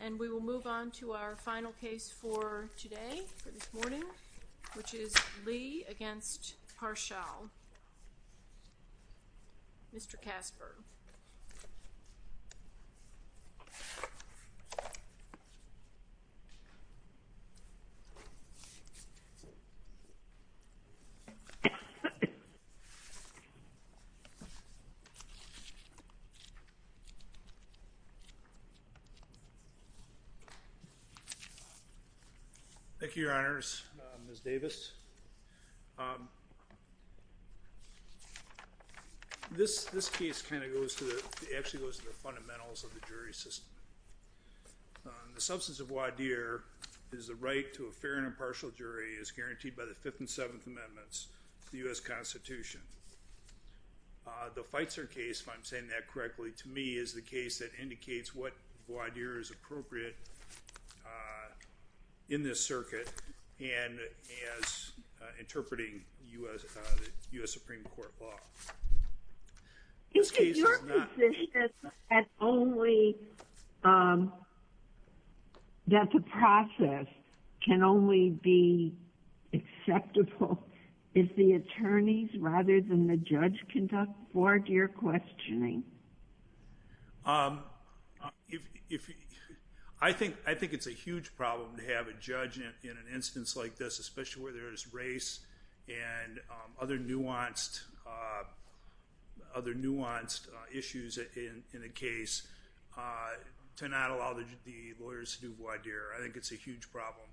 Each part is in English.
And we will move on to our final case for today, for this morning, which is Lee against Parshall. Mr. Casper. Thank you, Your Honors. Ms. Davis. This case kind of goes to the, actually goes to the fundamentals of the jury system. The substance of Wadir is the right to a fair and impartial jury as guaranteed by the Fifth and Seventh Amendments of the U.S. Constitution. The Feitzer case, if I'm saying that correctly, to me, is the case that indicates what Wadir is appropriate in this circuit and as interpreting U.S. Supreme Court law. This case is not- Is it your position that only, that the process can only be acceptable if the attorneys rather than the judge conduct Wadir questioning? I think, I think it's a huge problem to have a judge in an instance like this, especially where there is race and other nuanced, other nuanced issues in a case, to not allow the lawyers to do Wadir. I think it's a huge problem.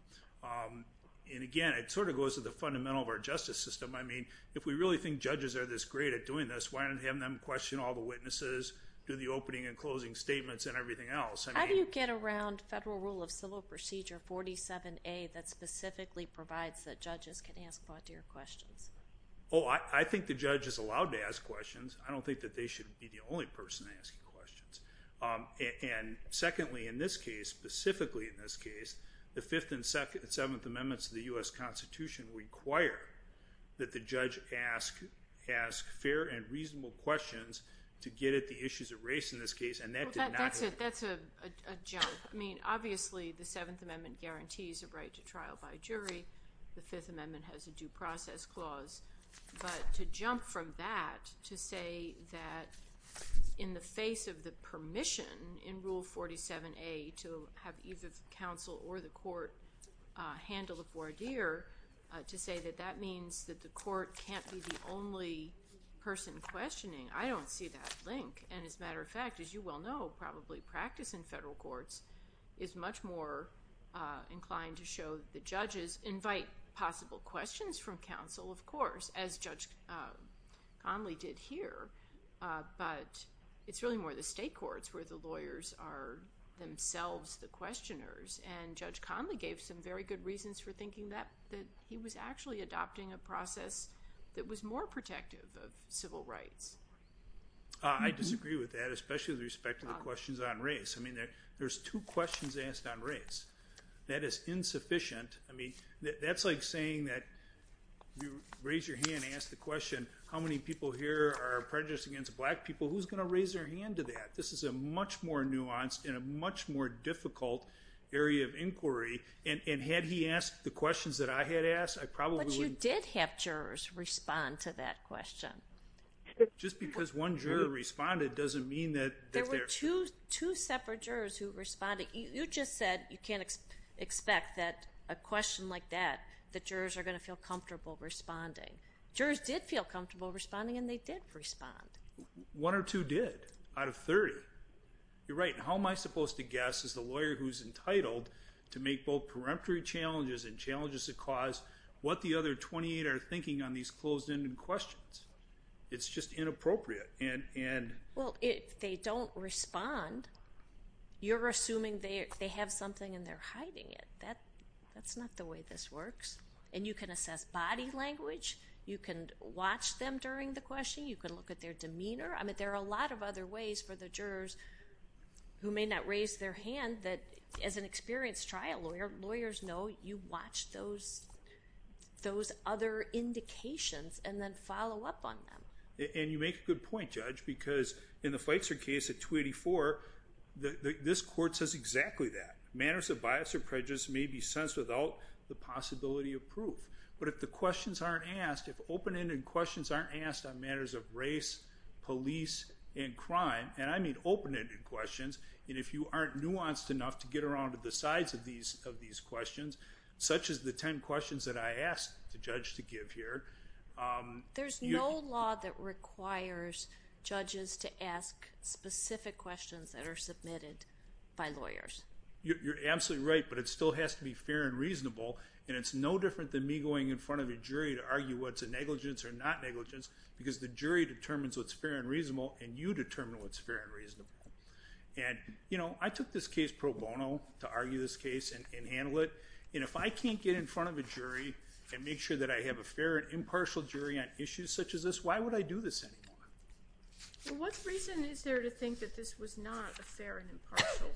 And again, it sort of goes to the fundamental of our justice system. I mean, if we really think judges are this great at doing this, why don't we have them question all the witnesses, do the opening and closing statements and everything else? How do you get around Federal Rule of Civil Procedure 47A that specifically provides that judges can ask Wadir questions? Oh, I think the judge is allowed to ask questions. I don't think that they should be the only person asking questions. And secondly, in this case, specifically in this case, the Fifth and Seventh Amendments of the U.S. Constitution require that the judge ask, ask fair and reasonable questions to get at the issues of race in this case, and that did not happen. Well, that's it. That's a jump. I mean, obviously the Seventh Amendment guarantees a right to trial by jury. The Fifth Amendment has a due process clause. But to jump from that to say that in the face of the permission in Rule 47A to have either counsel or the court handle a Wadir, to say that that means that the court can't be the only person questioning, I don't see that link. And as a matter of fact, as you well know, probably practice in federal courts is much more inclined to show the judges invite possible questions from counsel, of course, as Judge Conley did here. But it's really more the state courts where the lawyers are themselves the questioners. And Judge Conley gave some very good reasons for thinking that he was actually adopting a process that was more protective of civil rights. I disagree with that, especially with respect to the questions on race. I mean, there's two questions asked on race. That is insufficient. I mean, that's like saying that you raise your hand and ask the question, how many people here are prejudiced against black people? Who's going to raise their hand to that? This is a much more nuanced and a much more difficult area of inquiry. And had he asked the questions that I had asked, I probably wouldn't. But you did have jurors respond to that question. Just because one juror responded doesn't mean that they're... There were two separate jurors who responded. You just said you can't expect that a question like that, that jurors are going to feel comfortable responding. Jurors did feel comfortable responding and they did respond. One or two did out of 30. You're right. How am I supposed to guess as the lawyer who's entitled to make both peremptory challenges and challenges to cause what the other 28 are thinking on these closed-ended questions? It's just inappropriate. Well, if they don't respond, you're assuming they have something and they're hiding it. That's not the way this works. And you can watch them during the question. You can look at their demeanor. I mean, there are a lot of other ways for the jurors who may not raise their hand that, as an experienced trial lawyer, lawyers know you watch those other indications and then follow up on them. And you make a good point, Judge, because in the Feitzer case at 284, this court says exactly that. Manners of bias or prejudice may be sensed without the possibility of proof. But if the questions aren't asked, if open-ended questions aren't asked on matters of race, police and crime, and I mean open-ended questions, and if you aren't nuanced enough to get around to the sides of these questions, such as the 10 questions that I asked the judge to give here... There's no law that requires judges to ask specific questions that are submitted by lawyers. You're absolutely right, but it still has to be fair and reasonable, and it's no different than me going in front of a jury to argue what's a negligence or not negligence, because the jury determines what's fair and reasonable, and you determine what's fair and reasonable. And, you know, I took this case pro bono to argue this case and handle it, and if I can't get in front of a jury and make sure that I have a fair and impartial jury on issues such as this, why would I do this anymore? What reason is there to think that this was not a fair and impartial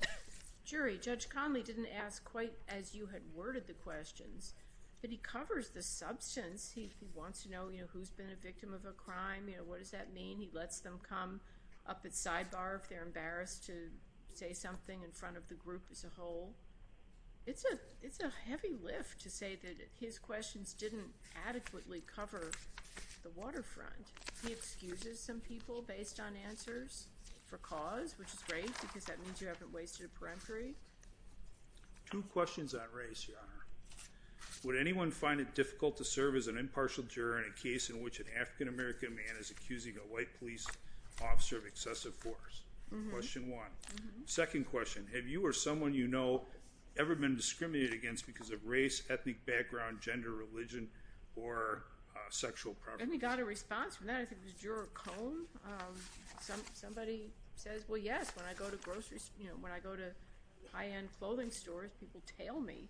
jury? Judge Conley didn't ask quite as you had worded the questions, but he covers the substance. He wants to know, you know, who's been a victim of a crime, you know, what does that mean? He lets them come up at sidebar if they're embarrassed to say something in front of the group as a whole. It's a heavy lift to say that his questions didn't adequately cover the waterfront. He excuses some people based on answers for cause, which is great, because that means you haven't wasted a peremptory. Two questions on race, Your Honor. Would anyone find it difficult to serve as an impartial juror in a case in which an African-American man is accusing a white police officer of excessive force? Question one. Second question, have you or someone you know ever been discriminated against because of race, ethnic background, gender, religion, or sexual property? And we got a response from that. I think it was Juror Cohn. Somebody says, well, yes, when I go to high-end clothing stores, people tail me.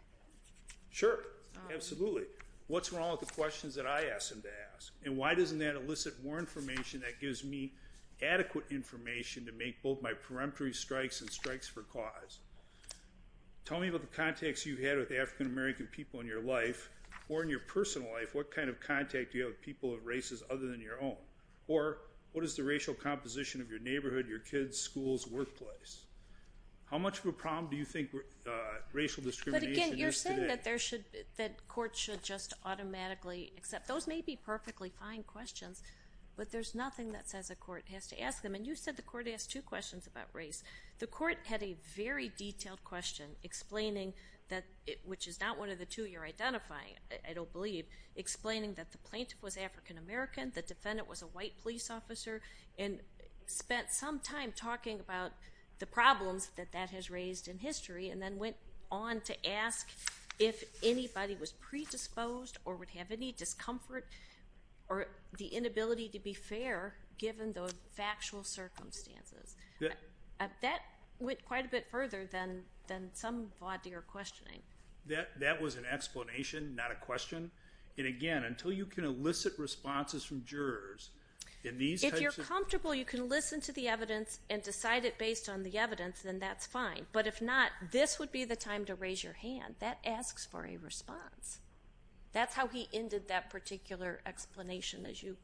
Sure, absolutely. What's wrong with the questions that I ask them to ask? And why doesn't that elicit more information that gives me adequate information to make both my peremptory strikes and strikes for cause? Tell me about the contacts you've had with African-American people in your life or in your personal life. What kind of contact do you have with people of races other than your own? Or what is the racial composition of your neighborhood, your kids, your school's workplace? How much of a problem do you think racial discrimination is today? But again, you're saying that courts should just automatically accept. Those may be perfectly fine questions, but there's nothing that says a court has to ask them. And you said the court asked two questions about race. The court had a very detailed question explaining that, which is not one of the two you're identifying, I don't believe, explaining that the plaintiff was African-American, the defendant was a white police officer, and spent some time talking about the problems that that has raised in history, and then went on to ask if anybody was predisposed or would have any discomfort or the inability to be fair given the factual circumstances. That went quite a bit further than some of your questioning. That was an explanation, not a question. And again, until you can elicit responses from jurors in these types of... If you're comfortable, you can listen to the evidence and decide it based on the evidence, then that's fine. But if not, this would be the time to raise your hand. That asks for a response. That's how he ended that particular explanation, as you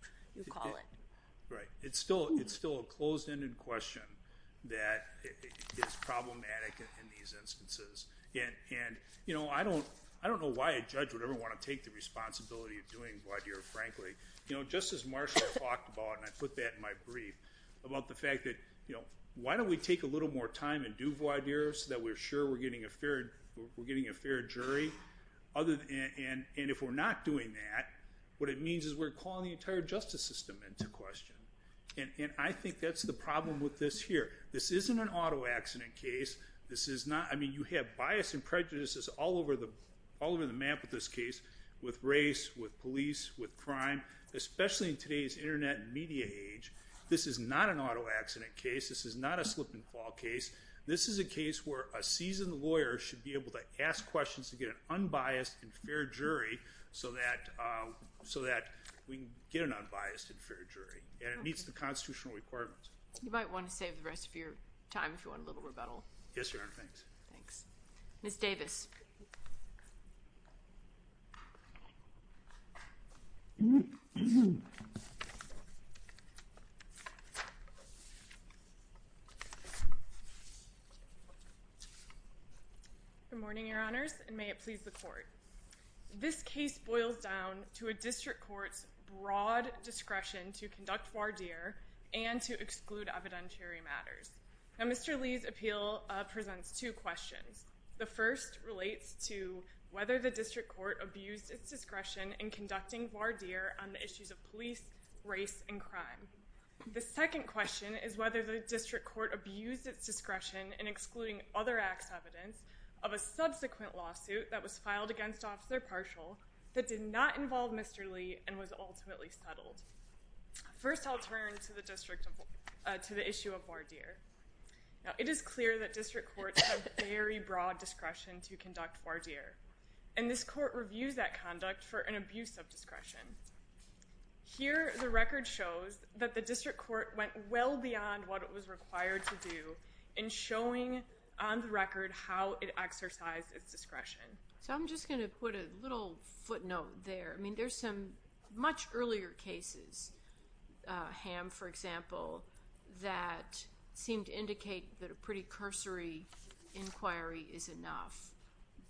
call it. Right. It's still a closed-ended question that is problematic in these instances. And I don't know why a judge would ever want to take the responsibility of doing voir dire, frankly. Just as Marshall talked about, and I put that in my brief, about the fact that why don't we take a little more time and do voir dire so that we're sure we're getting a fair jury? And if we're not doing that, what it means is we're calling the entire justice system into question. And I think that's the problem with this here. This isn't an auto accident case. You have bias and prejudices all over the map with this case, with race, with police, with crime, especially in today's internet and media age. This is not an auto accident case. This is not a slip and fall case. This is a case where a seasoned lawyer should be able to ask questions to get an unbiased and fair jury so that we can get an unbiased and fair jury. And it meets the constitutional requirements. You might want to save the rest of your time if you want a little rebuttal. Yes, Your Honor. Thanks. Ms. Davis. Good morning, Your Honors, and may it please the court. This case boils down to a district court's broad discretion to conduct voir dire and to exclude evidentiary matters. Now, Mr. Lee's appeal presents two questions. The first relates to whether the district court abused its discretion in conducting voir dire on the issues of police, race, and crime. The second question is whether the district court abused its discretion in excluding other acts of evidence of a subsequent lawsuit that was filed against Officer Partial that did not involve Mr. Lee and was ultimately settled. First, I'll turn to the issue of voir dire. It is clear that district courts have very broad discretion to conduct voir dire, and this court reviews that conduct for an abuse of discretion. Here, the record shows that the district court went well beyond what it was required to do in showing on the record how it exercised its discretion. So, I'm just going to put a little footnote there. I mean, there's some much earlier cases, Ham, for example, that seemed to indicate that a pretty cursory inquiry is enough.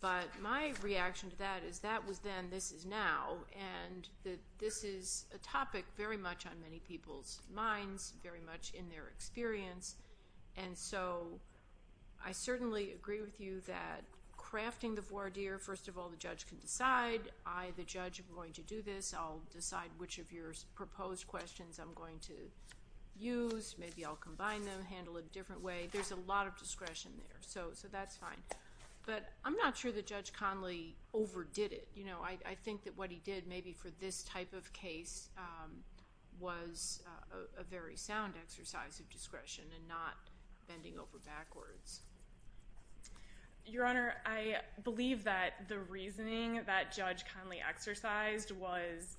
But my reaction to that is that was then, this is now, and that this is a topic very much on many people's minds, very much in their experience. And so, I certainly agree with you that crafting the voir dire, first of all, the judge can decide. I, the judge, am going to do this. I'll decide which of your proposed questions I'm going to use. Maybe I'll combine them, handle it a different way. There's a lot of discretion there, so that's fine. But I'm not sure that Judge Conley overdid it. You know, I think that what he did, maybe for this type of case, was a very sound exercise of discretion and not bending over backwards. Your Honor, I believe that the reasoning that Judge Conley exercised was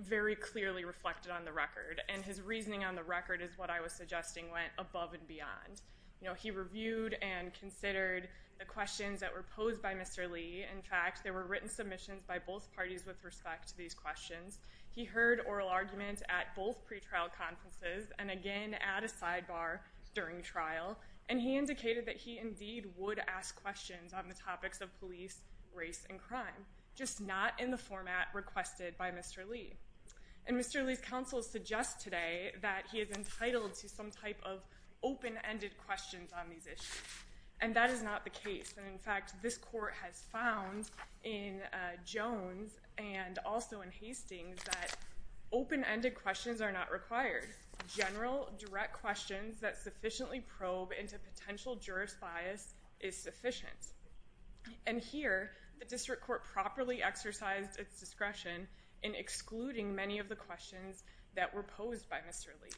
very clearly reflected on the record. And his reasoning on the record is what I was suggesting went above and beyond. You know, he reviewed and considered the questions that were posed by Mr. Lee. In fact, there were written submissions by both parties with respect to these questions. He heard oral arguments at both pretrial conferences and again at a sidebar during trial. And he indicated that he indeed would ask questions on the topics of police, race, and crime, just not in the format requested by Mr. Lee. And Mr. Lee's counsel suggests today that he is entitled to some type of open-ended questions on these issues. And that is not the case. And in fact, this Court has found in Jones and also in Hastings that open-ended questions are not required. General, direct questions that sufficiently probe into potential jurist bias is sufficient. And here, the District Court properly exercised its discretion in excluding many of the questions that were posed by Mr. Lee.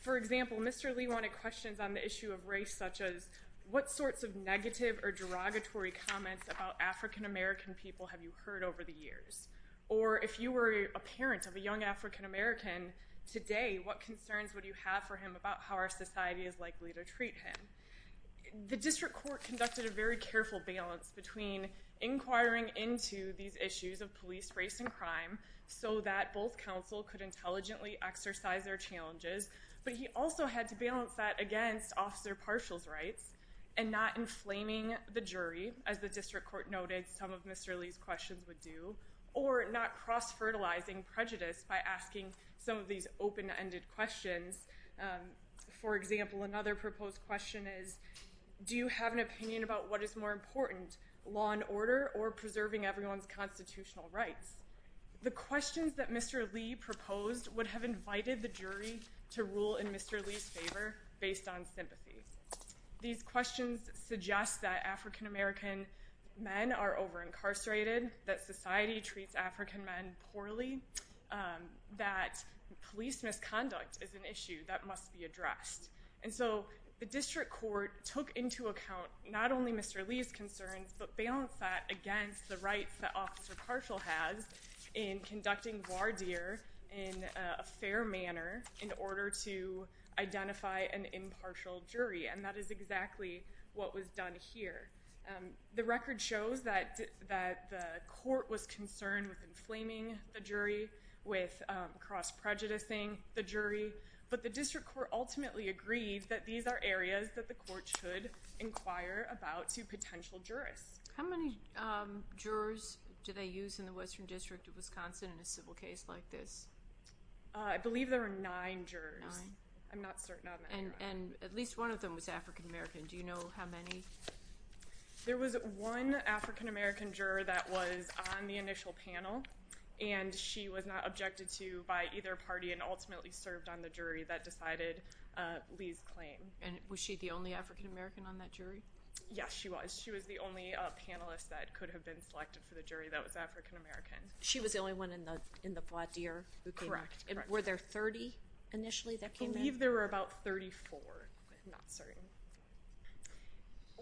For example, Mr. Lee wanted questions on the issue of race, such as, what sorts of negative or derogatory comments about African-American people have you heard over the years? Or if you were a parent of a young African-American today, what concerns would you have for him about how our society is likely to treat him? The District Court conducted a very careful balance between inquiring into these issues of police, race, and crime so that both counsel could intelligently exercise their challenges. But he also had to balance that against Officer Partial's rights and not inflaming the jury, as the District Court noted some of Mr. Lee's questions would do, or not cross-fertilizing prejudice by asking some of these open-ended questions. For example, another proposed question is, do you have an opinion about what is more important, law and order or preserving everyone's constitutional rights? The questions that Mr. Lee proposed would have invited the jury to rule in Mr. Lee's favor based on sympathy. These questions suggest that African-American men are over-incarcerated, that society treats African men poorly, that police misconduct is an issue that must be addressed. And so the District Court took into account not only Mr. Lee's concerns, but balanced that against the rights that Officer Partial has in conducting voir dire in a fair manner in order to identify an impartial jury. And that is exactly what was done here. The record shows that the court was concerned with inflaming the jury, with cross-prejudicing the jury, but the District Court ultimately agreed that these are areas that the court should inquire about to potential jurists. How many jurors did they use in the Western District of Wisconsin in a civil case like this? I believe there were nine jurors. Nine? I'm not certain on that number. And at least one of them was African-American. Do you know how many? There was one African-American juror that was on the initial panel, and she was not objected to by either party and ultimately served on the jury that decided Lee's claim. And was she the only African-American on that panel that could have been selected for the jury that was African-American? She was the only one in the voir dire? Correct. Were there 30 initially that came in? I believe there were about 34. I'm not certain.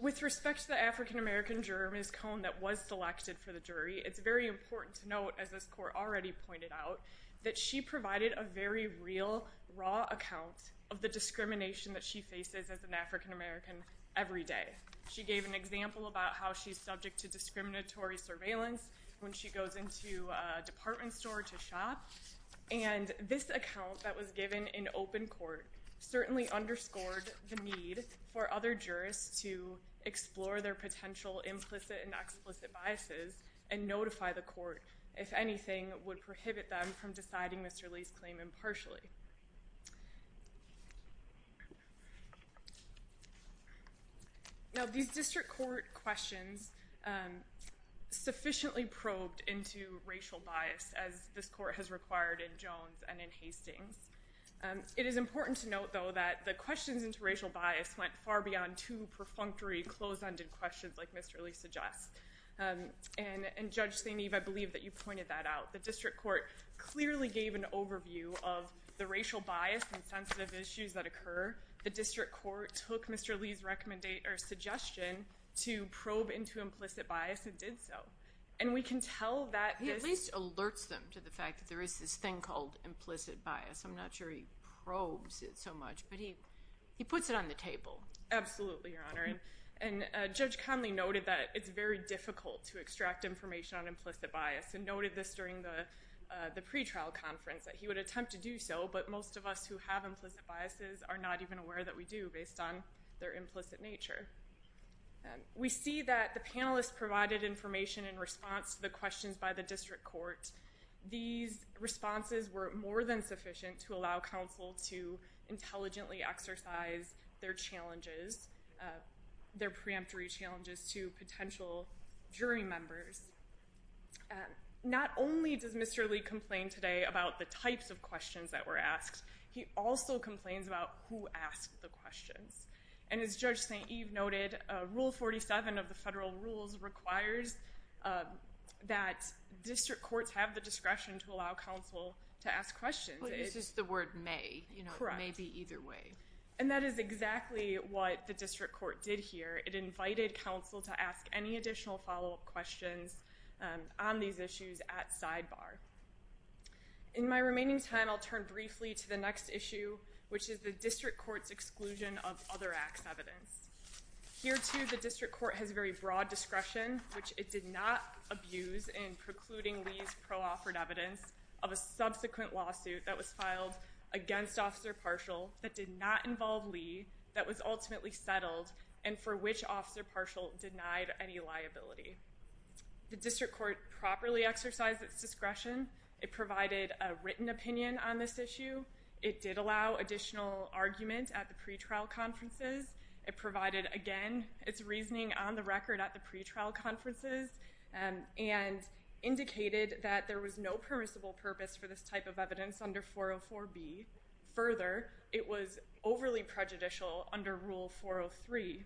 With respect to the African-American juror, Ms. Cone, that was selected for the jury, it's very important to note, as this court already pointed out, that she provided a very real, raw account of the discrimination that she faces as an subject to discriminatory surveillance when she goes into a department store to shop. And this account that was given in open court certainly underscored the need for other jurists to explore their potential implicit and explicit biases and notify the court, if anything, would prohibit them from deciding Mr. Lee's claim impartially. Now, these district court questions sufficiently probed into racial bias, as this court has required in Jones and in Hastings. It is important to note, though, that the questions into racial bias went far beyond two perfunctory, closed-ended questions like Mr. Lee suggests. And Judge St. Eve, I believe that you pointed that out. The district court clearly gave an overview of the racial bias and sensitive issues that occur. The district court took Mr. Lee's suggestion to probe into implicit bias and did so. And we can tell that this— He at least alerts them to the fact that there is this thing called implicit bias. I'm not sure he probes it so much, but he puts it on the table. Absolutely, Your Honor. And Judge Conley noted that it's very difficult to extract information on implicit bias and noted this during the pretrial conference, that he would attempt to do so, but most of us who have implicit biases are not even aware that we do based on their implicit nature. We see that the panelists provided information in response to the questions by the district court. These responses were more than sufficient to allow counsel to intelligently exercise their challenges, their preemptory challenges to potential jury members. Not only does Mr. Lee complain today about the types of questions that were asked, he also complains about who asked the questions. And as Judge St. Eve noted, Rule 47 of the federal rules requires that district courts have the discretion to allow counsel to ask questions. Well, this is the word may. Correct. May be either way. And that is exactly what the district court did here. It invited counsel to ask any additional follow-up questions on these issues at sidebar. In my remaining time, I'll turn briefly to the next issue, which is the district court's exclusion of other acts evidence. Here, too, the district court has very broad discretion, which it did not abuse in precluding Lee's pro-offered evidence of a subsequent lawsuit that was filed against Officer Partial that did not involve Lee that was ultimately settled and for which Officer Partial denied any liability. The district court properly exercised its discretion. It provided a written opinion on this issue. It did allow additional argument at the pretrial conferences. It provided, again, its reasoning on the record at the pretrial conferences and indicated that there was no permissible purpose for this type of evidence under 404B. Further, it was overly prejudicial under Rule 403.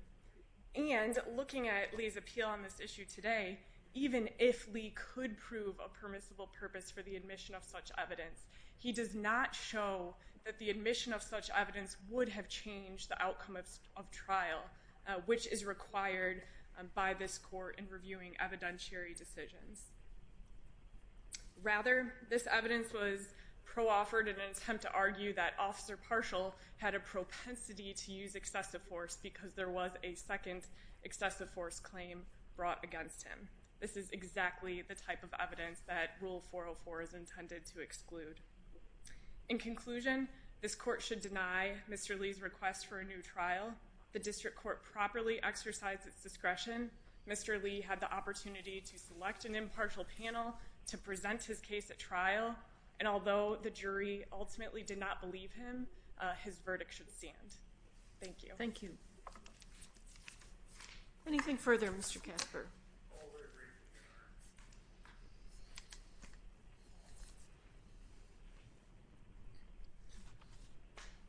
And looking at Lee's appeal on this issue today, even if Lee could prove a permissible purpose for the admission of such evidence, he does not show that the admission of such evidence would have changed the outcome of trial, which is required by this court in reviewing evidentiary decisions. Rather, this evidence was pro-offered in an attempt to argue that Officer Partial had a propensity to use excessive force because there was a second excessive force claim brought against him. This is exactly the type of evidence that Rule 404 is intended to exclude. In conclusion, this court should deny Mr. Lee's request for a new trial. The district court properly exercised its discretion. Mr. Lee had the opportunity to select an impartial panel to present his case at trial, and although the jury ultimately did not believe him, his verdict should stand. Thank you. Thank you. Anything further, Mr. Kasper? All are agreed to be adjourned.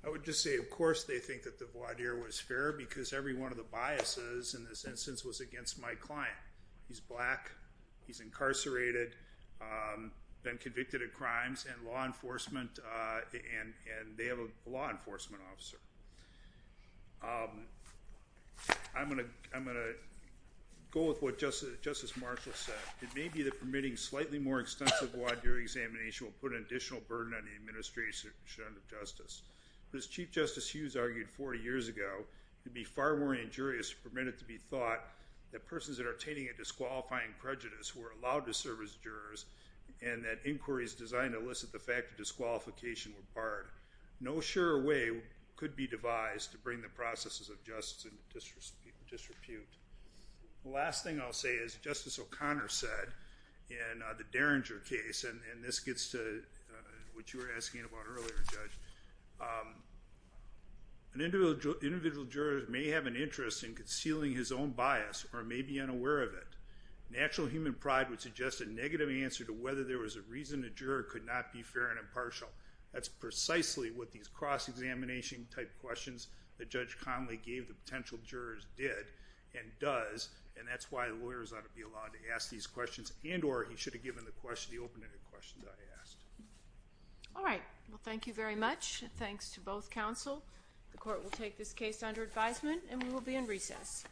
I would just say, of course, they think that the voir dire was fair because every one of the biases in this instance was against my client. He's black, he's incarcerated, been convicted of crimes, and law enforcement, and they have a law enforcement officer. I'm going to go with what Justice Marshall said. It may be that permitting slightly more extensive voir dire examination will put an additional burden on the administration of justice. As Chief Justice Hughes argued 40 years ago, it would be far more injurious to permit it to be thought that persons that are attaining a disqualifying prejudice were allowed to serve as jurors, and that inquiries designed to elicit the fact of disqualification were barred. No sure way could be devised to bring the processes of justice into disrepute. The last thing I'll say is, Justice O'Connor said in the Derringer case, and this gets to what you were asking about earlier, Judge, an individual juror may have an interest in concealing his own bias or may be unaware of it. Natural human pride would suggest a negative answer to whether there was a reason a juror could not be fair and impartial. That's precisely what these cross-examination type questions that Judge Conley gave the potential jurors did and does, and that's why lawyers ought to be allowed to ask these questions and or he asked. All right, well thank you very much. Thanks to both counsel. The court will take this case under advisement and we will be in recess.